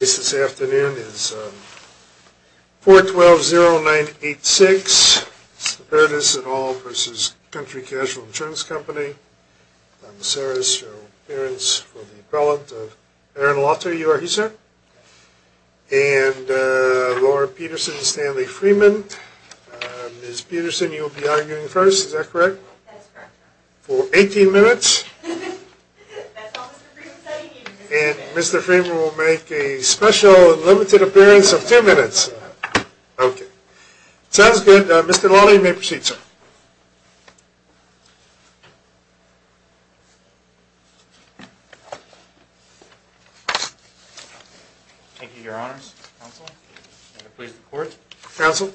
This afternoon is 412-0986, Saperdas et al. v. Country Casualty Insurance Company. Donna Saris, your appearance for the appellant. Erin Laughter, you are here, sir. And Laura Peterson, Stanley Freeman. Ms. Peterson, you will be arguing first, is that correct? For 18 minutes. And Mr. Freeman will make a special and limited appearance of 2 minutes. Sounds good. Mr. Lawley, you may proceed, sir. Thank you, your honors. Counsel.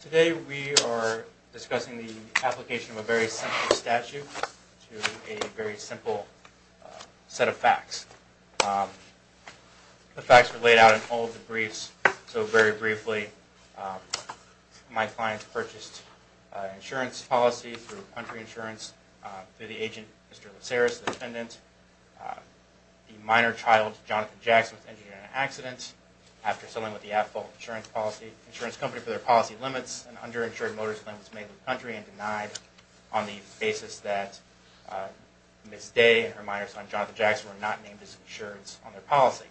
Today we are discussing the application of a very simple statute to a very simple set of facts. The facts are laid out in all of the briefs. So very briefly, my client purchased insurance policy through Country Insurance through the agent, Mr. LaSaris, the defendant. The minor child, Jonathan Jackson, was injured in an accident. After settling with the at-fault insurance company for their policy limits, an underinsured motorist claim was made with Country and denied on the basis that Ms. Day and her minor son, Jonathan Jackson, were not named as insureds on their policy.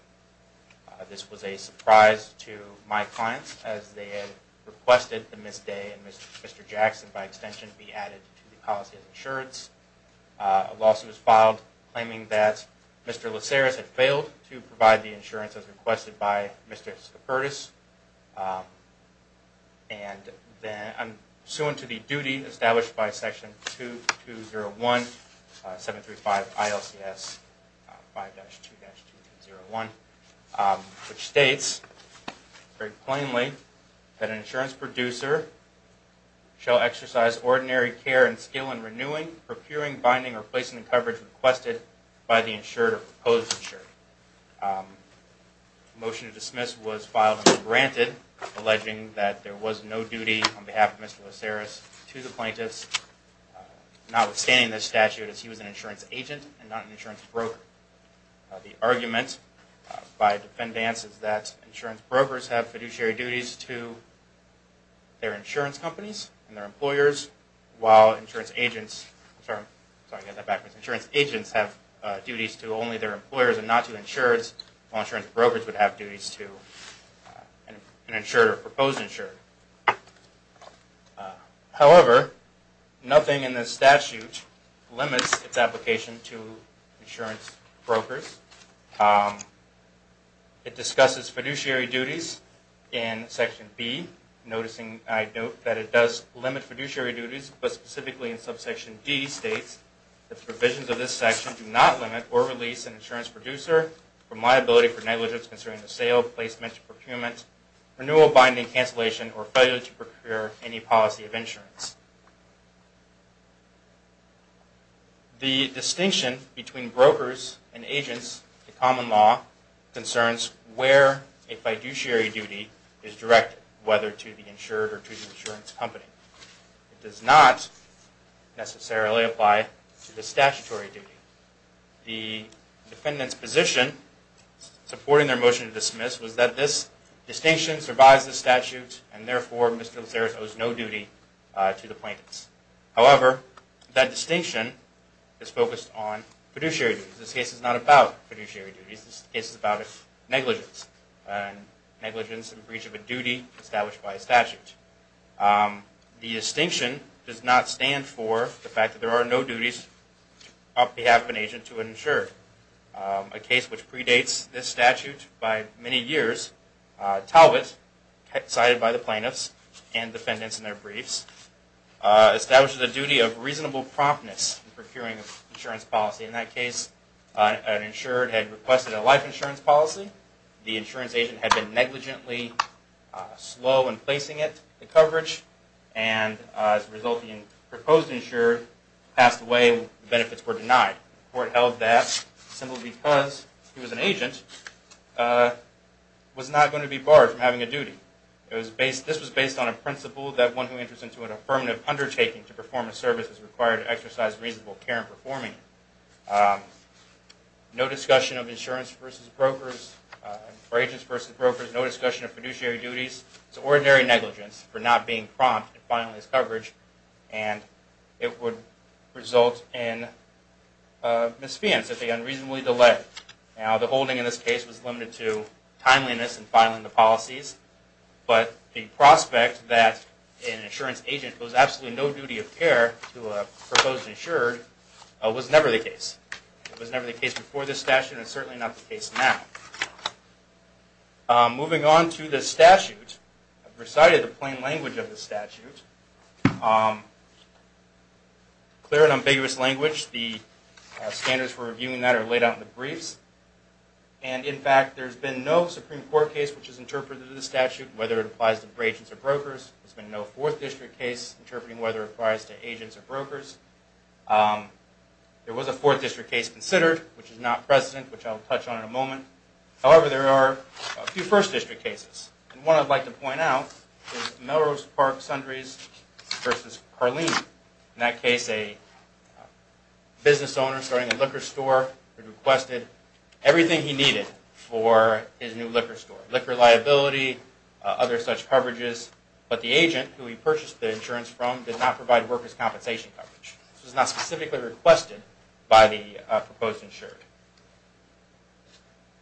This was a surprise to my client as they had requested that Ms. Day and Mr. Jackson, by extension, be added to the policy of insureds. A lawsuit was filed claiming that Mr. LaSaris had failed to provide the insurance as requested by Mr. Scopertis. And I'm suing to the duty established by Section 2201, 735 ILCS 5-2-2-0-1, which states very plainly that an insurance producer shall exercise ordinary care and skill in renewing, procuring, binding, or placing the coverage requested by the insured or proposed insured. A motion to dismiss was filed and granted alleging that there was no duty on behalf of Mr. LaSaris to the plaintiffs, notwithstanding this statute as he was an insurance agent and not an insurance broker. The argument by defendants is that insurance brokers have fiduciary duties to their insurance companies and their employers, while insurance agents have duties to only their employers and not to insureds, while insurance brokers would have duties to an insured or proposed insured. However, nothing in this statute limits its application to insurance brokers. It discusses fiduciary duties in Section B, noticing I note that it does limit fiduciary duties, but specifically in subsection D states that the provisions of this section do not limit or release an insurance producer from liability for negligence concerning the sale, placement, procurement, renewal, binding, cancellation, or failure to procure any policy of insurance. The distinction between brokers and agents in common law concerns where a fiduciary duty is directed, whether to the insured or to the insurance company. It does not necessarily apply to the statutory duty. The defendants' position supporting their motion to dismiss was that this distinction survives the statute and therefore Mr. Loseros owes no duty to the plaintiffs. However, that distinction is focused on fiduciary duties. This case is not about fiduciary duties. This case is about negligence and negligence in breach of a duty established by a statute. The distinction does not stand for the fact that there are no duties on behalf of an agent to an insured. A case which predates this statute by many years, Talbot, cited by the plaintiffs and defendants in their briefs, establishes a duty of reasonable promptness in procuring an insurance policy. In that case, an insured had requested a life insurance policy. The insurance agent had been negligently slow in placing it, the coverage, and as a result the proposed insured passed away and benefits were denied. The court held that simply because he was an agent was not going to be barred from having a duty. This was based on a principle that one who enters into an affirmative undertaking to perform a service is required to exercise reasonable care in performing it. No discussion of insurance versus brokers or agents versus brokers. No discussion of fiduciary duties. It's ordinary negligence for not being prompt in filing this coverage and it would result in misfeasance if they unreasonably delay. Now, the holding in this case was limited to timeliness in filing the policies, but the prospect that an insurance agent owes absolutely no duty of care to a proposed insured was never the case. It was never the case before this statute and it's certainly not the case now. Moving on to the statute. I've recited the plain language of the statute. Clear and ambiguous language. The standards for reviewing that are laid out in the briefs. And, in fact, there's been no Supreme Court case which has interpreted the statute, whether it applies to agents or brokers. There's been no 4th District case interpreting whether it applies to agents or brokers. There was a 4th District case considered, which is not present, which I'll touch on in a moment. However, there are a few 1st District cases. And one I'd like to point out is Melrose Park Sundries versus Carlene. In that case, a business owner starting a liquor store had requested everything he needed for his new liquor store. Liquor liability, other such coverages. But the agent who he purchased the insurance from did not provide workers' compensation coverage. This was not specifically requested by the proposed insured.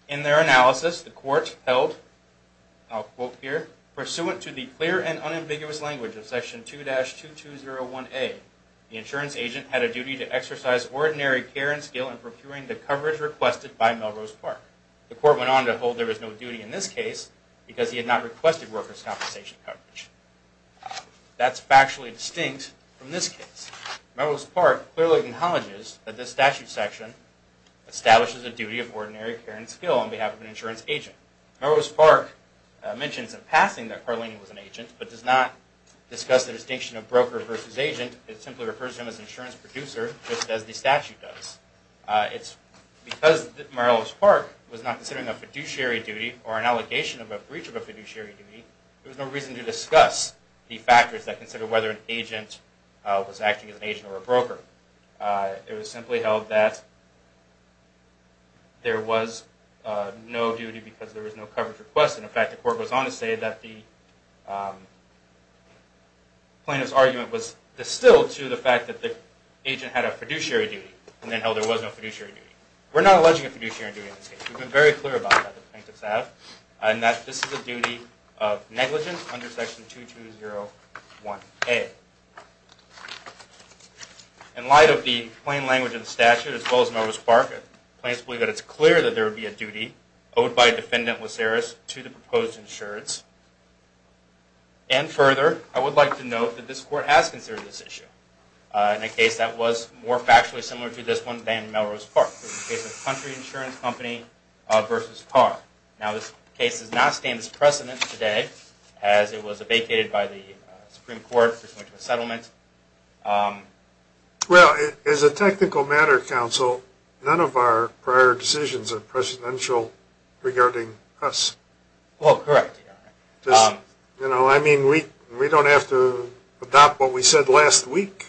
In their analysis, the court held, I'll quote here, Pursuant to the clear and unambiguous language of Section 2-2201A, the insurance agent had a duty to exercise ordinary care and skill in procuring the coverage requested by Melrose Park. The court went on to hold there was no duty in this case because he had not requested workers' compensation coverage. That's factually distinct from this case. Melrose Park clearly acknowledges that this statute section establishes a duty of ordinary care and skill on behalf of an insurance agent. Melrose Park mentions in passing that Carlene was an agent, but does not discuss the distinction of broker versus agent. It simply refers to him as an insurance producer, just as the statute does. Because Melrose Park was not considering a fiduciary duty or an allegation of a breach of a fiduciary duty, there was no reason to discuss the factors that consider whether an agent was acting as an agent or a broker. It was simply held that there was no duty because there was no coverage requested. In fact, the court goes on to say that the plaintiff's argument was distilled to the fact that the agent had a fiduciary duty, and then held there was no fiduciary duty. We're not alleging a fiduciary duty in this case. In light of the plain language of the statute, as well as Melrose Park, the plaintiffs believe that it's clear that there would be a duty owed by Defendant Laceris to the proposed insurance. And further, I would like to note that this court has considered this issue in a case that was more factually similar to this one than Melrose Park, which is the case of Country Insurance Company v. Carr. Now, this case does not stand as precedent today, as it was vacated by the Supreme Court to a settlement. Well, as a technical matter, counsel, none of our prior decisions are presidential regarding us. Oh, correct. You know, I mean, we don't have to adopt what we said last week,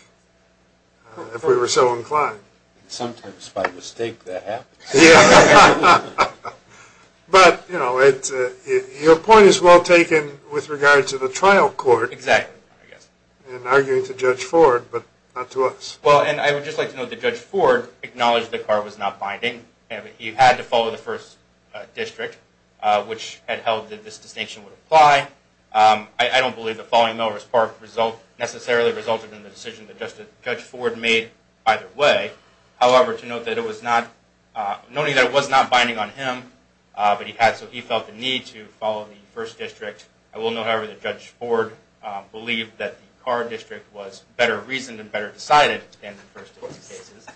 if we were so inclined. Sometimes by mistake that happens. Yeah. But, you know, your point is well taken with regard to the trial court. Exactly. And arguing to Judge Ford, but not to us. Well, and I would just like to note that Judge Ford acknowledged that Carr was not binding. He had to follow the first district, which had held that this distinction would apply. I don't believe that following Melrose Park necessarily resulted in the decision that Judge Ford made either way. However, to note that it was not, noting that it was not binding on him, but he had, so he felt the need to follow the first district. I will note, however, that Judge Ford believed that the Carr district was better reasoned and better decided than the first district cases.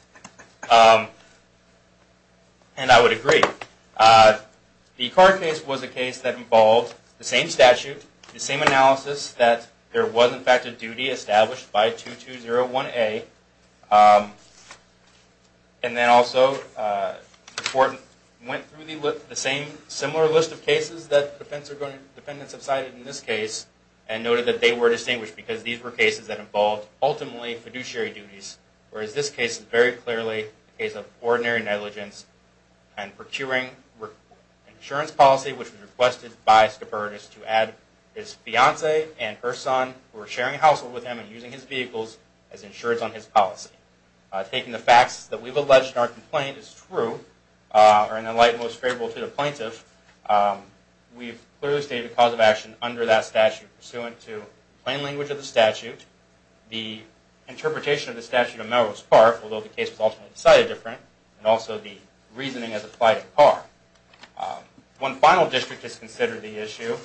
And I would agree. The Carr case was a case that involved the same statute, the same analysis that there was, in fact, a duty established by 2201A. And then also, the court went through the same similar list of cases that defendants have cited in this case and noted that they were distinguished because these were cases that involved ultimately fiduciary duties, whereas this case is very clearly a case of ordinary negligence and procuring insurance policy, which was requested by Scoburgus to add his fiancée and her son, who were sharing a household with him and using his vehicles as insurance on his policy. Taking the facts that we've alleged in our complaint as true, or in the light most favorable to the plaintiff, we've clearly stated the cause of action under that statute pursuant to plain language of the statute, the interpretation of the statute of Melrose Park, although the case was ultimately decided different, and also the reasoning as applied at Carr. One final district is considered the issue,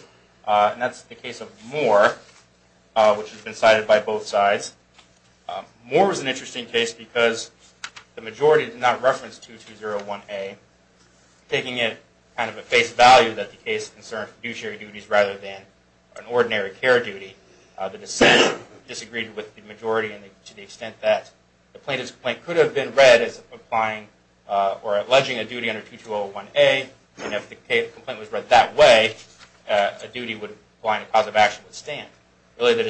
and that's the case of Moore, which has been cited by both sides. Moore was an interesting case because the majority did not reference 2201A, taking it kind of at face value that the case concerned fiduciary duties rather than an ordinary care duty. The dissent disagreed with the majority to the extent that the plaintiff's complaint could have been read as applying or alleging a duty under 2201A, and if the complaint was read that way, a duty would apply and a cause of action would stand. Really, the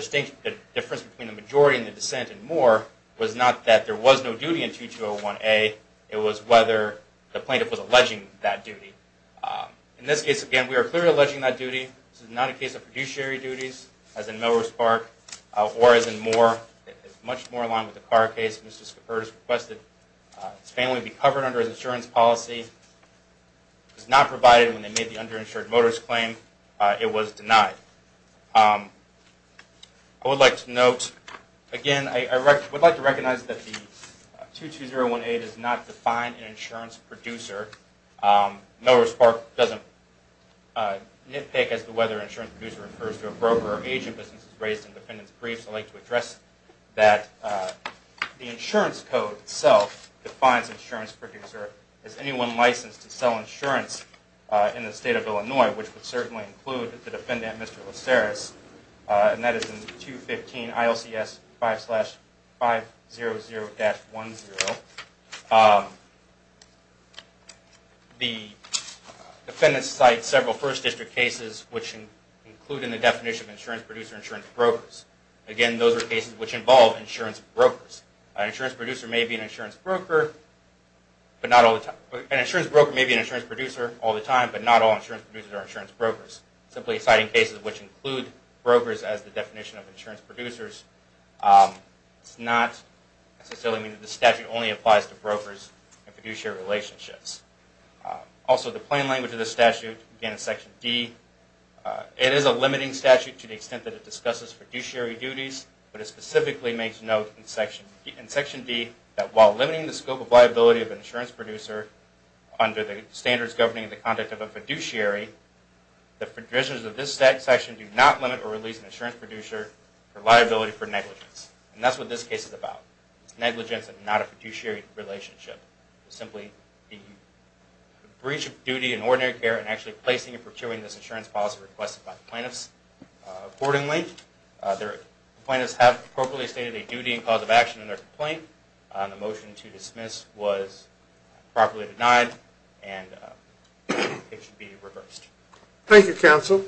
difference between the majority and the dissent in Moore was not that there was no duty in 2201A, it was whether the plaintiff was alleging that duty. In this case, again, we are clearly alleging that duty. This is not a case of fiduciary duties, as in Melrose Park, or as in Moore. It is much more in line with the Carr case. Mr. Schiffer has requested his family be covered under his insurance policy. It was not provided when they made the underinsured motorist claim. It was denied. I would like to note, again, I would like to recognize that the 2201A does not define an insurance producer. Melrose Park doesn't nitpick as to whether an insurance producer refers to a broker or agent, and this is raised in the defendant's brief, so I'd like to address that. The insurance code itself defines an insurance producer as anyone licensed to sell insurance in the State of Illinois, which would certainly include the defendant, Mr. Laceris, and that is in 215 ILCS 5-500-10. The defendants cite several First District cases which include in the definition of insurance producer insurance brokers. Again, those are cases which involve insurance brokers. An insurance broker may be an insurance producer all the time, but not all insurance producers are insurance brokers. Simply citing cases which include brokers as the definition of insurance producers does not necessarily mean that this statute only applies to brokers and fiduciary relationships. Also, the plain language of this statute, again in Section D, it is a limiting statute to the extent that it discusses fiduciary duties, but it specifically makes note in Section D that while limiting the scope of liability of an insurance producer under the standards governing the conduct of a fiduciary, the provisions of this section do not limit or release an insurance producer for liability for negligence. And that's what this case is about. It's negligence and not a fiduciary relationship. It's simply the breach of duty in ordinary care and actually placing and procuring this insurance policy requested by the plaintiffs. Accordingly, the plaintiffs have appropriately stated a duty and cause of action in their complaint. The motion to dismiss was properly denied and it should be reversed. Thank you, counsel.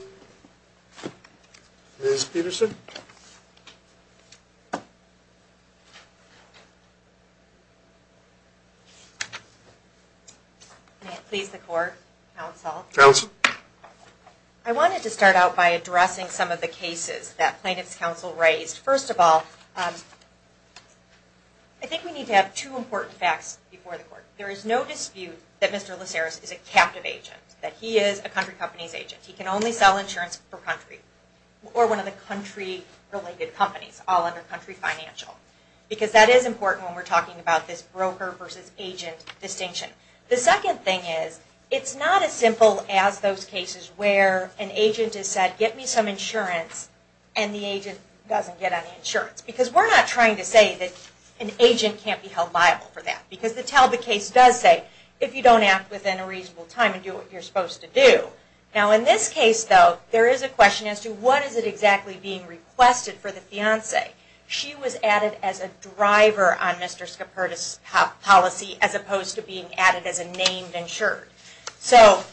Ms. Peterson. May it please the court, counsel. Counsel. I wanted to start out by addressing some of the cases that plaintiffs' counsel raised. First of all, I think we need to have two important facts before the court. There is no dispute that Mr. Laceris is a captive agent, that he is a country company's agent. He can only sell insurance for country or one of the country-related companies, all under country financial. Because that is important when we're talking about this broker versus agent distinction. The second thing is, it's not as simple as those cases where an agent has said, get me some insurance, and the agent doesn't get any insurance. Because we're not trying to say that an agent can't be held liable for that. Because the Talbot case does say, if you don't act within a reasonable time and do what you're supposed to do. Now in this case, though, there is a question as to what is it exactly being requested for the fiancee. She was added as a driver on Mr. Scoperta's policy as opposed to being added as a named insured. So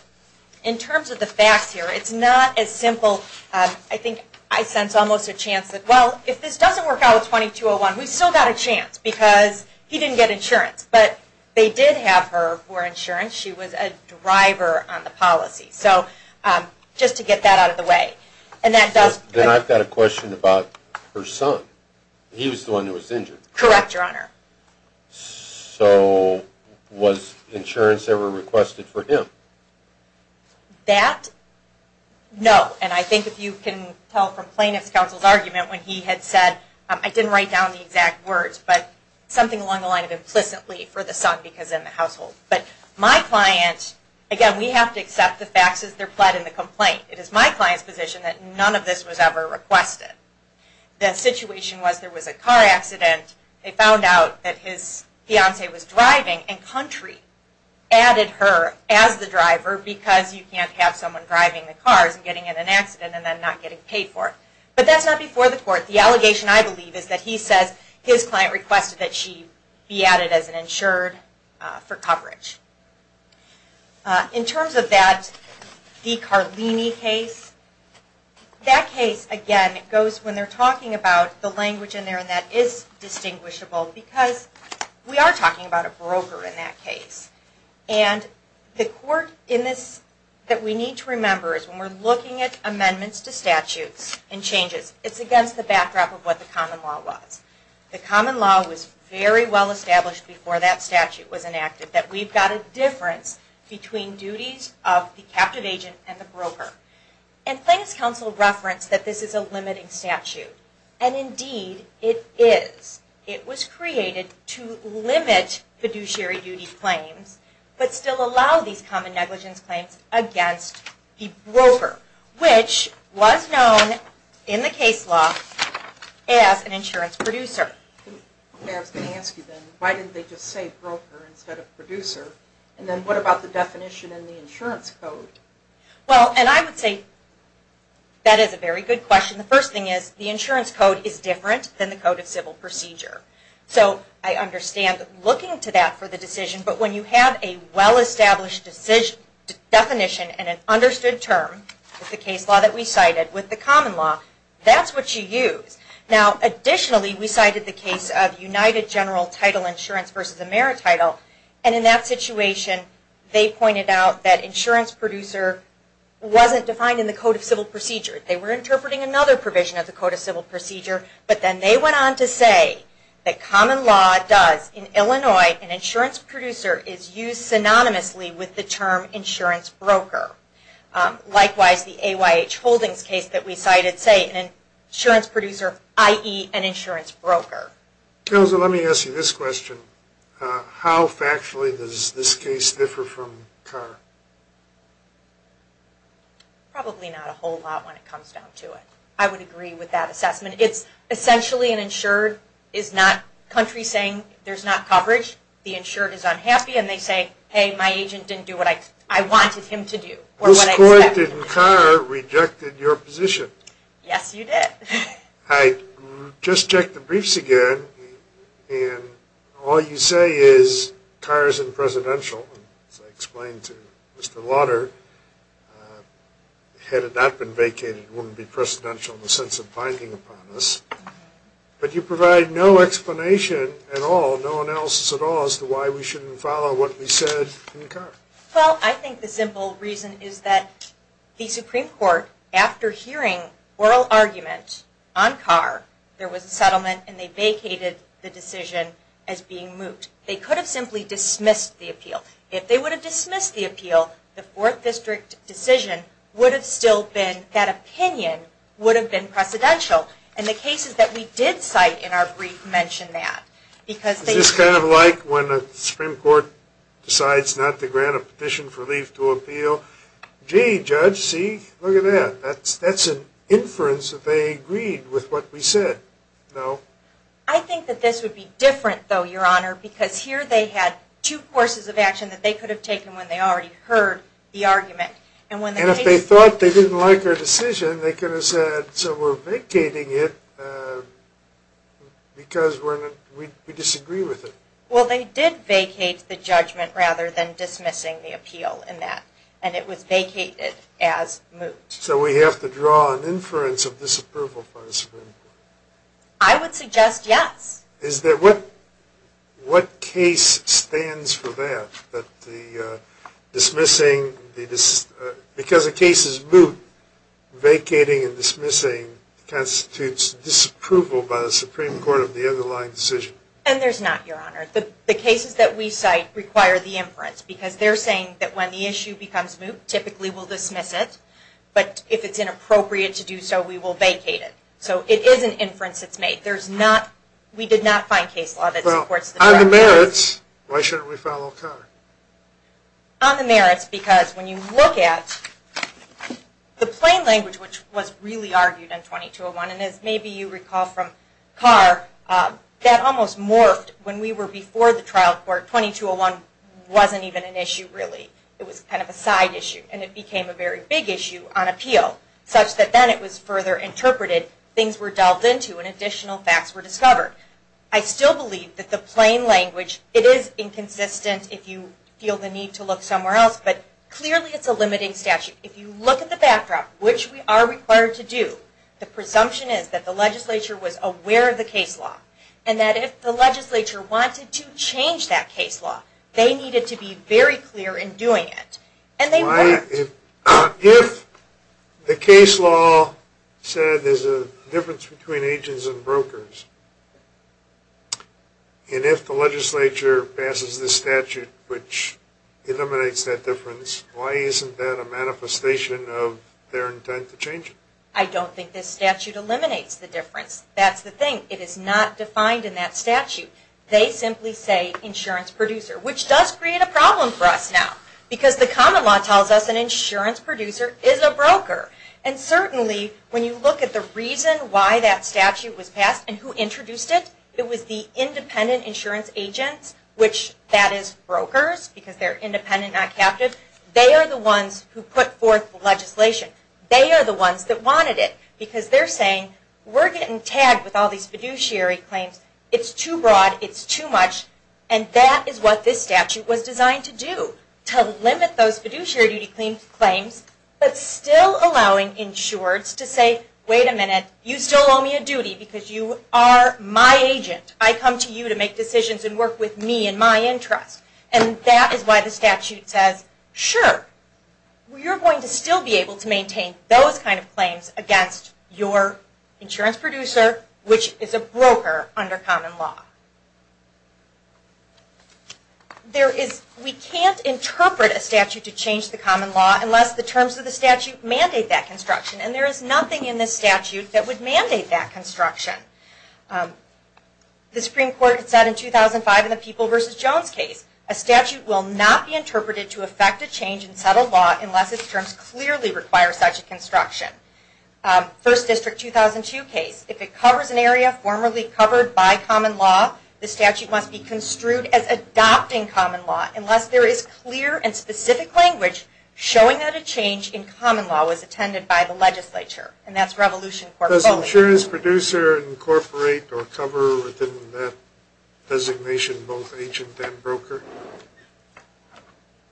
in terms of the facts here, it's not as simple. I think I sense almost a chance that, well, if this doesn't work out with 2201, we've still got a chance. Because he didn't get insurance. But they did have her for insurance. She was a driver on the policy. So just to get that out of the way. Then I've got a question about her son. He was the one who was injured. Correct, Your Honor. So was insurance ever requested for him? That, no. And I think if you can tell from plaintiff's counsel's argument when he had said, I didn't write down the exact words, but something along the line of implicitly for the son because in the household. But my client, again, we have to accept the facts as they're pled in the complaint. It is my client's position that none of this was ever requested. The situation was there was a car accident. They found out that his fiancee was driving and country added her as the driver because you can't have someone driving the cars and getting in an accident and then not getting paid for it. But that's not before the court. The allegation, I believe, is that he says his client requested that she be added as an insured for coverage. In terms of that De Carlini case, that case, again, goes when they're talking about the language in there and that is distinguishable because we are talking about a broker in that case. And the court in this that we need to remember is when we're looking at amendments to statutes and changes, it's against the backdrop of what the common law was. The common law was very well established before that statute was enacted that we've got a difference between duties of the captive agent and the broker. And claims counsel referenced that this is a limiting statute. And indeed it is. It was created to limit fiduciary duty claims but still allow these common negligence claims against the broker, which was known in the case law as an insurance producer. Okay, I was going to ask you then, why didn't they just say broker instead of producer? And then what about the definition in the insurance code? Well, and I would say that is a very good question. The first thing is the insurance code is different than the code of civil procedure. So I understand looking to that for the decision, but when you have a well-established definition and an understood term, the case law that we cited with the common law, that's what you use. Now, additionally, we cited the case of United General Title Insurance v. Amerititle. And in that situation, they pointed out that insurance producer wasn't defined in the code of civil procedure. They were interpreting another provision of the code of civil procedure, but then they went on to say that common law does, in Illinois, an insurance producer is used synonymously with the term insurance broker. Likewise, the AYH Holdings case that we cited, say an insurance producer, i.e. an insurance broker. Kelsa, let me ask you this question. How factually does this case differ from Carr? Probably not a whole lot when it comes down to it. I would agree with that assessment. It's essentially an insured is not country saying there's not coverage. The insured is unhappy, and they say, hey, my agent didn't do what I wanted him to do. Whose court did Carr reject in your position? Yes, you did. Hi. Just checked the briefs again, and all you say is Carr is in presidential, as I explained to Mr. Lauder, had it not been vacated, it wouldn't be presidential in the sense of binding upon us. But you provide no explanation at all, no analysis at all, as to why we shouldn't follow what we said in Carr. Well, I think the simple reason is that the Supreme Court, after hearing oral argument on Carr, there was a settlement and they vacated the decision as being moot. They could have simply dismissed the appeal. If they would have dismissed the appeal, the Fourth District decision would have still been, that opinion would have been presidential. And the cases that we did cite in our brief mention that. Is this kind of like when the Supreme Court decides not to grant a petition for leave to appeal? Gee, Judge, see, look at that. That's an inference that they agreed with what we said. No? I think that this would be different, though, Your Honor, because here they had two courses of action that they could have taken when they already heard the argument. And if they thought they didn't like our decision, then they could have said, so we're vacating it because we disagree with it. Well, they did vacate the judgment rather than dismissing the appeal in that. And it was vacated as moot. So we have to draw an inference of disapproval from the Supreme Court. I would suggest yes. Is that what case stands for that? That because a case is moot, vacating and dismissing constitutes disapproval by the Supreme Court of the underlying decision. And there's not, Your Honor. The cases that we cite require the inference because they're saying that when the issue becomes moot, typically we'll dismiss it. But if it's inappropriate to do so, we will vacate it. So it is an inference that's made. We did not find case law that supports the truth. On the merits, why shouldn't we follow Carr? On the merits, because when you look at the plain language which was really argued in 2201, and as maybe you recall from Carr, that almost morphed when we were before the trial court. 2201 wasn't even an issue really. It was kind of a side issue. And it became a very big issue on appeal, such that then it was further interpreted, things were delved into, and additional facts were discovered. I still believe that the plain language, it is inconsistent if you feel the need to look somewhere else, but clearly it's a limiting statute. If you look at the backdrop, which we are required to do, the presumption is that the legislature was aware of the case law, and that if the legislature wanted to change that case law, they needed to be very clear in doing it. And they weren't. If the case law said there's a difference between agents and brokers, and if the legislature passes this statute which eliminates that difference, why isn't that a manifestation of their intent to change it? I don't think this statute eliminates the difference. That's the thing. It is not defined in that statute. They simply say insurance producer, which does create a problem for us now, because the common law tells us an insurance producer is a broker. And certainly when you look at the reason why that statute was passed and who introduced it, it was the independent insurance agents, which that is brokers because they're independent, not captive. They are the ones who put forth the legislation. They are the ones that wanted it, because they're saying we're getting tagged with all these fiduciary claims. It's too broad. It's too much. And that is what this statute was designed to do, to limit those fiduciary duty claims, but still allowing insurers to say, wait a minute, you still owe me a duty because you are my agent. I come to you to make decisions and work with me and my interest. And that is why the statute says, sure, you're going to still be able to maintain those kind of claims against your insurance producer, which is a broker under common law. We can't interpret a statute to change the common law unless the terms of the statute mandate that construction. And there is nothing in this statute that would mandate that construction. The Supreme Court said in 2005 in the People v. Jones case, a statute will not be interpreted to affect a change in settled law unless its terms clearly require such a construction. First District 2002 case, if it covers an area formerly covered by common law, the statute must be construed as adopting common law unless there is clear and specific language showing that a change in common law was attended by the legislature. And that's Revolution Court. Does the insurance producer incorporate or cover within that designation both agent and broker?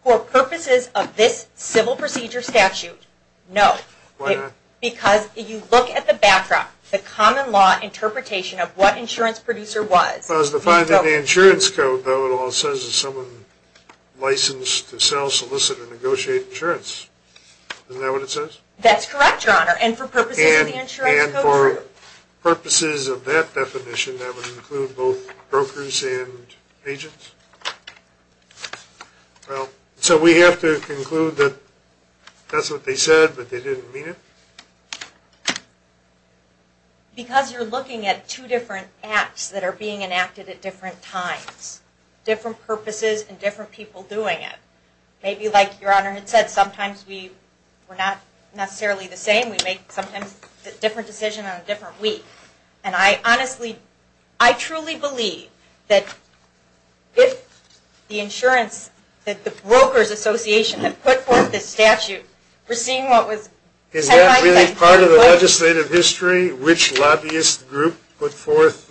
For purposes of this civil procedure statute, no. Why not? Because if you look at the backdrop, the common law interpretation of what insurance producer was. As defined in the insurance code, though, it all says that someone is licensed to sell, solicit, or negotiate insurance. Isn't that what it says? That's correct, Your Honor. And for purposes of the insurance code, true. And for purposes of that definition, that would include both brokers and agents. So we have to conclude that that's what they said, but they didn't mean it? Because you're looking at two different acts that are being enacted at different times, different purposes and different people doing it. Maybe like Your Honor had said, sometimes we're not necessarily the same. We make sometimes a different decision on a different week. And I honestly, I truly believe that if the insurance, that the Brokers Association had put forth this statute, we're seeing what was said like that. Is that really part of the legislative history? Which lobbyist group put forth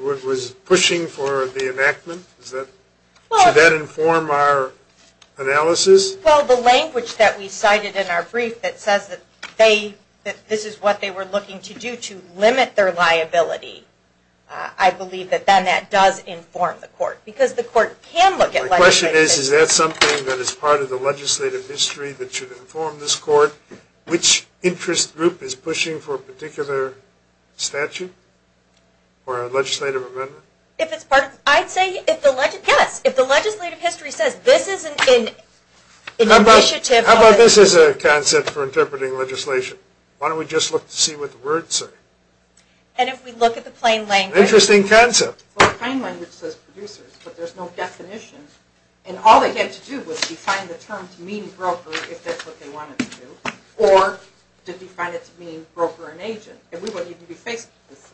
what was pushing for the enactment? Does that inform our analysis? Well, the language that we cited in our brief that says that this is what they were looking to do to limit their liability, I believe that then that does inform the court. Because the court can look at legislative history. My question is, is that something that is part of the legislative history that should inform this court? Which interest group is pushing for a particular statute or a legislative amendment? If it's part of, I'd say yes. If the legislative history says this isn't an initiative. How about this is a concept for interpreting legislation. Why don't we just look to see what the words say? And if we look at the plain language. Interesting concept. Well, the plain language says producers. But there's no definition. And all they had to do was define the term to mean broker if that's what they wanted to do. Or to define it to mean broker and agent. And we wouldn't even be facing this.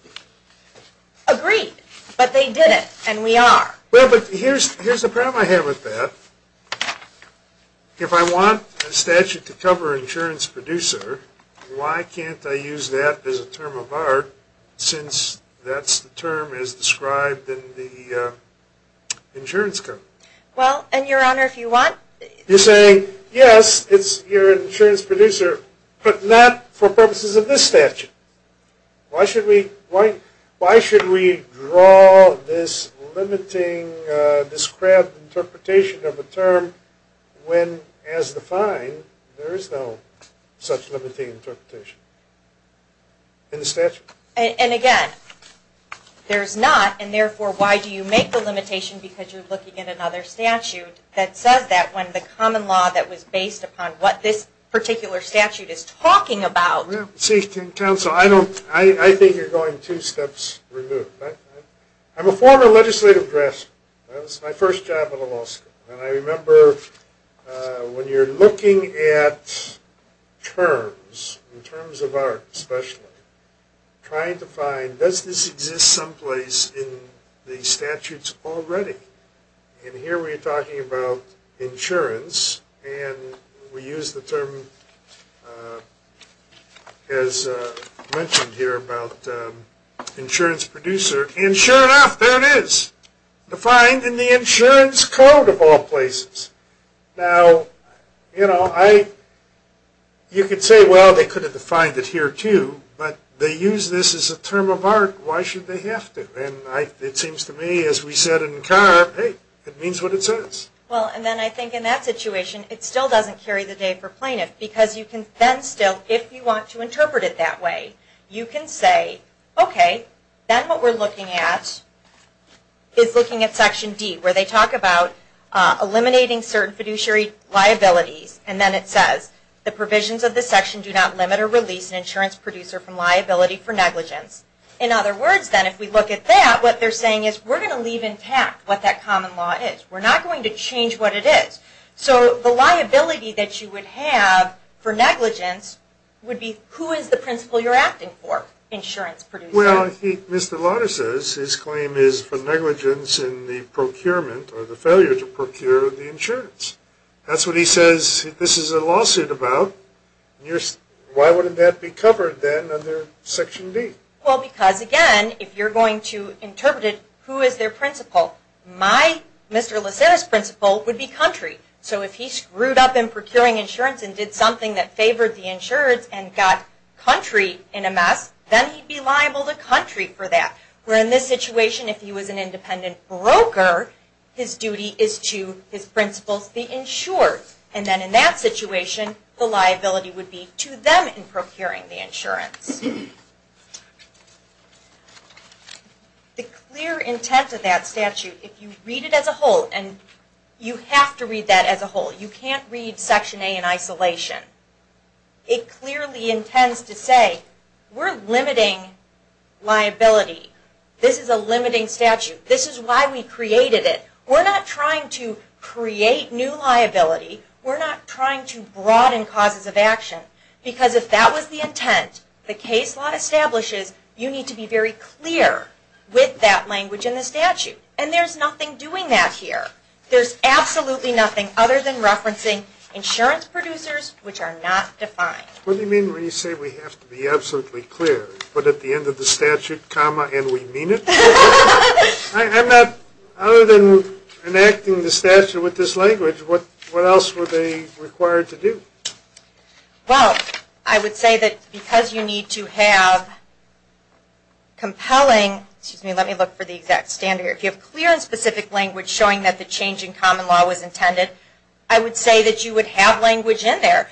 Agreed. But they did it. And we are. Well, but here's the problem I have with that. If I want a statute to cover insurance producer, why can't I use that as a term of art since that's the term as described in the insurance code? Well, and Your Honor, if you want. You're saying, yes, it's your insurance producer, but not for purposes of this statute. Why should we draw this limiting, described interpretation of a term when, as defined, there is no such limiting interpretation in the statute? And again, there's not. And therefore, why do you make the limitation because you're looking at another statute that says that when the common law that was based upon what this particular statute is talking about. See, counsel, I think you're going two steps removed. I'm a former legislative draftsman. That was my first job at a law school. And I remember when you're looking at terms, in terms of art especially, trying to find, does this exist someplace in the statutes already? And here we're talking about insurance. And we use the term, as mentioned here, about insurance producer. And sure enough, there it is. Defined in the insurance code of all places. Now, you could say, well, they could have defined it here too. But they use this as a term of art. Why should they have to? And it seems to me, as we said in Carr, hey, it means what it says. Well, and then I think in that situation, it still doesn't carry the day for plaintiff. Because you can then still, if you want to interpret it that way, you can say, OK, then what we're looking at is looking at Section D, where they talk about eliminating certain fiduciary liabilities. And then it says, the provisions of this section do not limit or release an insurance producer from liability for negligence. In other words, then, if we look at that, what they're saying is we're going to leave intact what that common law is. We're not going to change what it is. So the liability that you would have for negligence would be, who is the principal you're acting for? Insurance producer. Well, I think Mr. Lauder says his claim is for negligence in the procurement or the failure to procure the insurance. That's what he says this is a lawsuit about. Why wouldn't that be covered, then, under Section D? Well, because, again, if you're going to interpret it, who is their principal? My Mr. Lucero's principal would be country. So if he screwed up in procuring insurance and did something that favored the insurance and got country in a mess, then he'd be liable to country for that. Where in this situation, if he was an independent broker, his duty is to his principal to be insured. And then in that situation, the liability would be to them in procuring the insurance. The clear intent of that statute, if you read it as a whole, and you have to read that as a whole. You can't read Section A in isolation. It clearly intends to say, we're limiting liability. This is a limiting statute. This is why we created it. We're not trying to create new liability. We're not trying to broaden causes of action. Because if that was the intent the case law establishes, you need to be very clear with that language in the statute. And there's nothing doing that here. There's absolutely nothing other than referencing insurance producers which are not defined. What do you mean when you say we have to be absolutely clear? But at the end of the statute, comma, and we mean it? I'm not, other than enacting the statute with this language, what else were they required to do? Well, I would say that because you need to have compelling, excuse me, let me look for the exact standard here. If you have clear and specific language showing that the change in common law was intended, I would say that you would have language in there.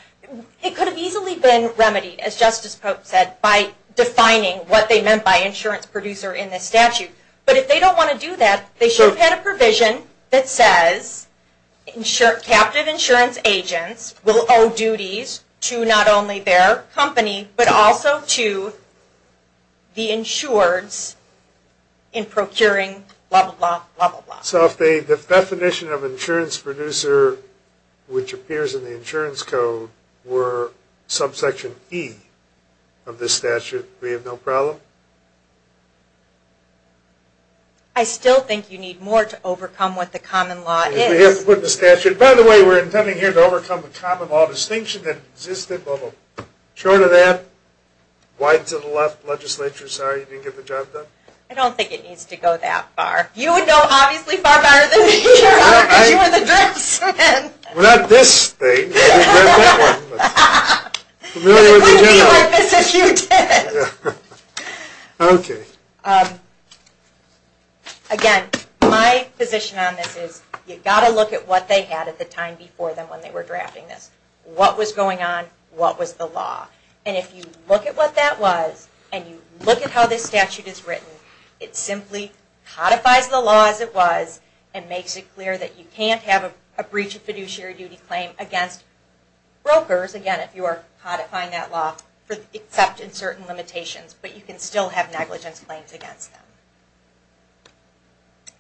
It could have easily been remedied, as Justice Pope said, by defining what they meant by insurance producer in the statute. But if they don't want to do that, they should have had a provision that says captive insurance agents will owe duties to not only their company, but also to the insureds in procuring blah, blah, blah, blah. So if the definition of insurance producer, which appears in the insurance code, were subsection E of this statute, we have no problem? I still think you need more to overcome what the common law is. We have to put it in the statute. By the way, we're intending here to overcome the common law distinction that existed, but short of that, wide to the left legislature. Sorry, you didn't get the job done. I don't think it needs to go that far. You would know obviously far better than me. Well, not this thing, but that one. It wouldn't be like this if you did. Again, my position on this is, you've got to look at what they had at the time before them when they were drafting this. What was going on? What was the law? And if you look at what that was, and you look at how this statute is written, it simply codifies the law as it was and makes it clear that you can't have a breach of fiduciary duty claim against brokers, again, if you are codifying that law, except in certain limitations, but you can still have negligence claims against them.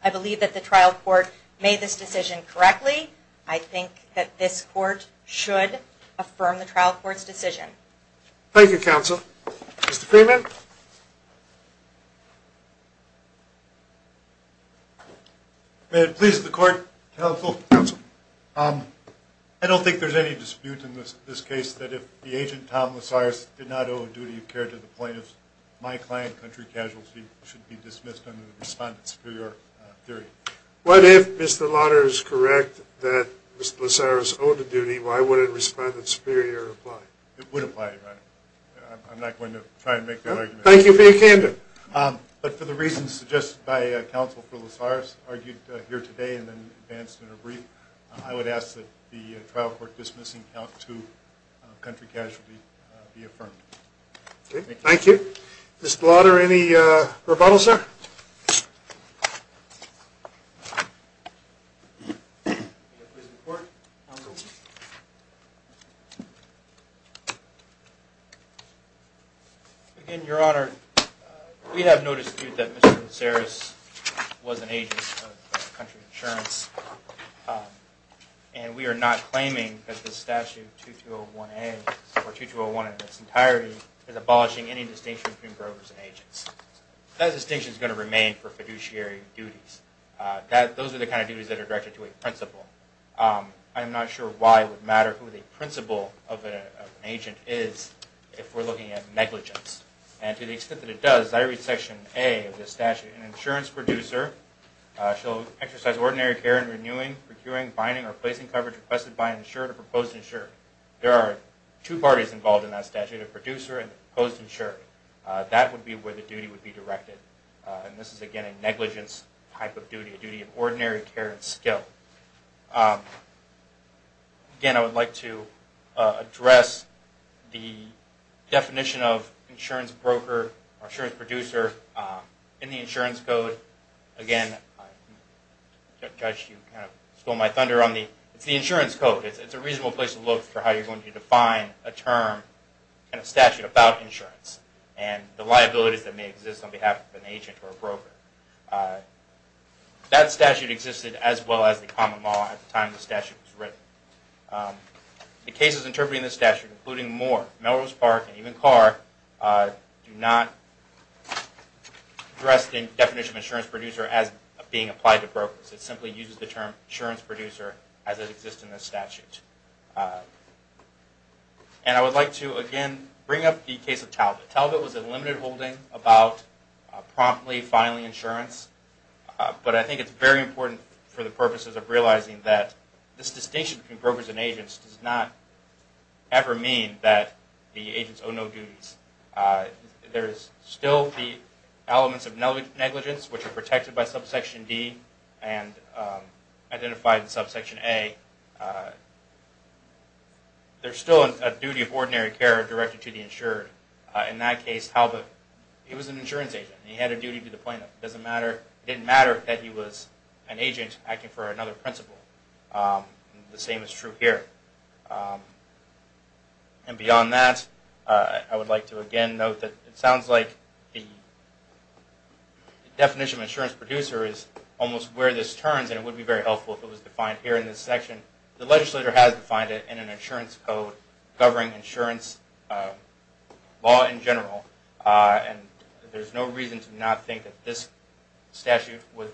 I believe that the trial court made this decision correctly. I think that this court should affirm the trial court's decision. Thank you, counsel. Mr. Freeman? May it please the court, counsel. Counsel. I don't think there's any dispute in this case that if the agent, Tom Losaris, did not owe a duty of care to the plaintiffs, my client country casualty should be dismissed under the respondent superior theory. What if Mr. Lauder is correct that Mr. Losaris owed a duty, why would a respondent superior apply? It would apply. I'm not going to try and make that argument. Thank you for your candor. But for the reasons suggested by counsel for Losaris, argued here today and then advanced in a brief, I would ask that the trial court dismissing count two country casualty be affirmed. Thank you. Mr. Lauder, any rebuttal, sir? May it please the court, counsel. Again, your honor, we have no dispute that Mr. Losaris was an agent of country insurance. And we are not claiming that the statute 2201A, or 2201 in its entirety, is abolishing any distinction between brokers and agents. That distinction is going to remain for fiduciary duties. Those are the kind of duties that are directed to a principal. I'm not sure why it would matter who the principal of an agent is if we're looking at negligence. And to the extent that it does, I read section A of the statute, an insurance producer shall exercise ordinary care in renewing, procuring, binding, or placing coverage requested by an insured or proposed insured. There are two parties involved in that statute, a producer and a proposed insured. That would be where the duty would be directed. And this is, again, a negligence type of duty, a duty of ordinary care and skill. Again, I would like to address the definition of insurance broker or insurance producer in the insurance code. Again, Judge, you kind of stole my thunder. It's the insurance code. It's a reasonable place to look for how you're going to define a term and a statute about insurance and the liabilities that may exist on behalf of an agent or a broker. That statute existed as well as the common law at the time the statute was written. The cases interpreting this statute, including more, Melrose Park and even Carr, do not address the definition of insurance producer as being applied to brokers. It simply uses the term insurance producer as it exists in the statute. And I would like to, again, bring up the case of Talbot. Talbot was a limited holding about promptly filing insurance, but I think it's very important for the purposes of realizing that this distinction between brokers and agents does not ever mean that the agents owe no duties. There's still the elements of negligence, which are protected by Subsection D and identified in Subsection A. There's still a duty of ordinary care directed to the insured. In that case, Talbot, he was an insurance agent. He had a duty to the plaintiff. It didn't matter that he was an agent acting for another principal. The same is true here. And beyond that, I would like to, again, note that it sounds like the definition of insurance producer is almost where this turns, and it would be very helpful if it was defined here in this section. The legislature has defined it in an insurance code covering insurance law in general, and there's no reason to not think that this statute would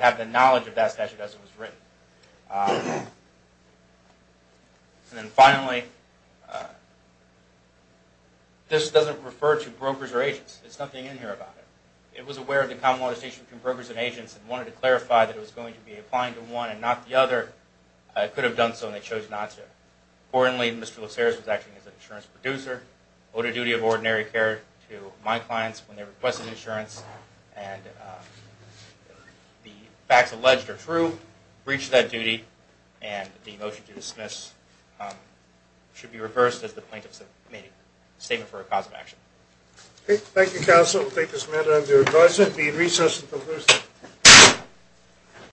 have the knowledge of that statute as it was written. And then finally, this doesn't refer to brokers or agents. There's nothing in here about it. It was aware of the common legislation between brokers and agents and wanted to clarify that it was going to be applying to one and not the other. It could have done so, and they chose not to. Importantly, Mr. Luceras was acting as an insurance producer, owed a duty of ordinary care to my clients when they requested insurance, and the facts alleged are true, breached that duty, and the motion to dismiss should be reversed as the plaintiffs have made a statement for a cause of action. Okay. Thank you, counsel. We'll take this matter under advisement. The recess is concluded.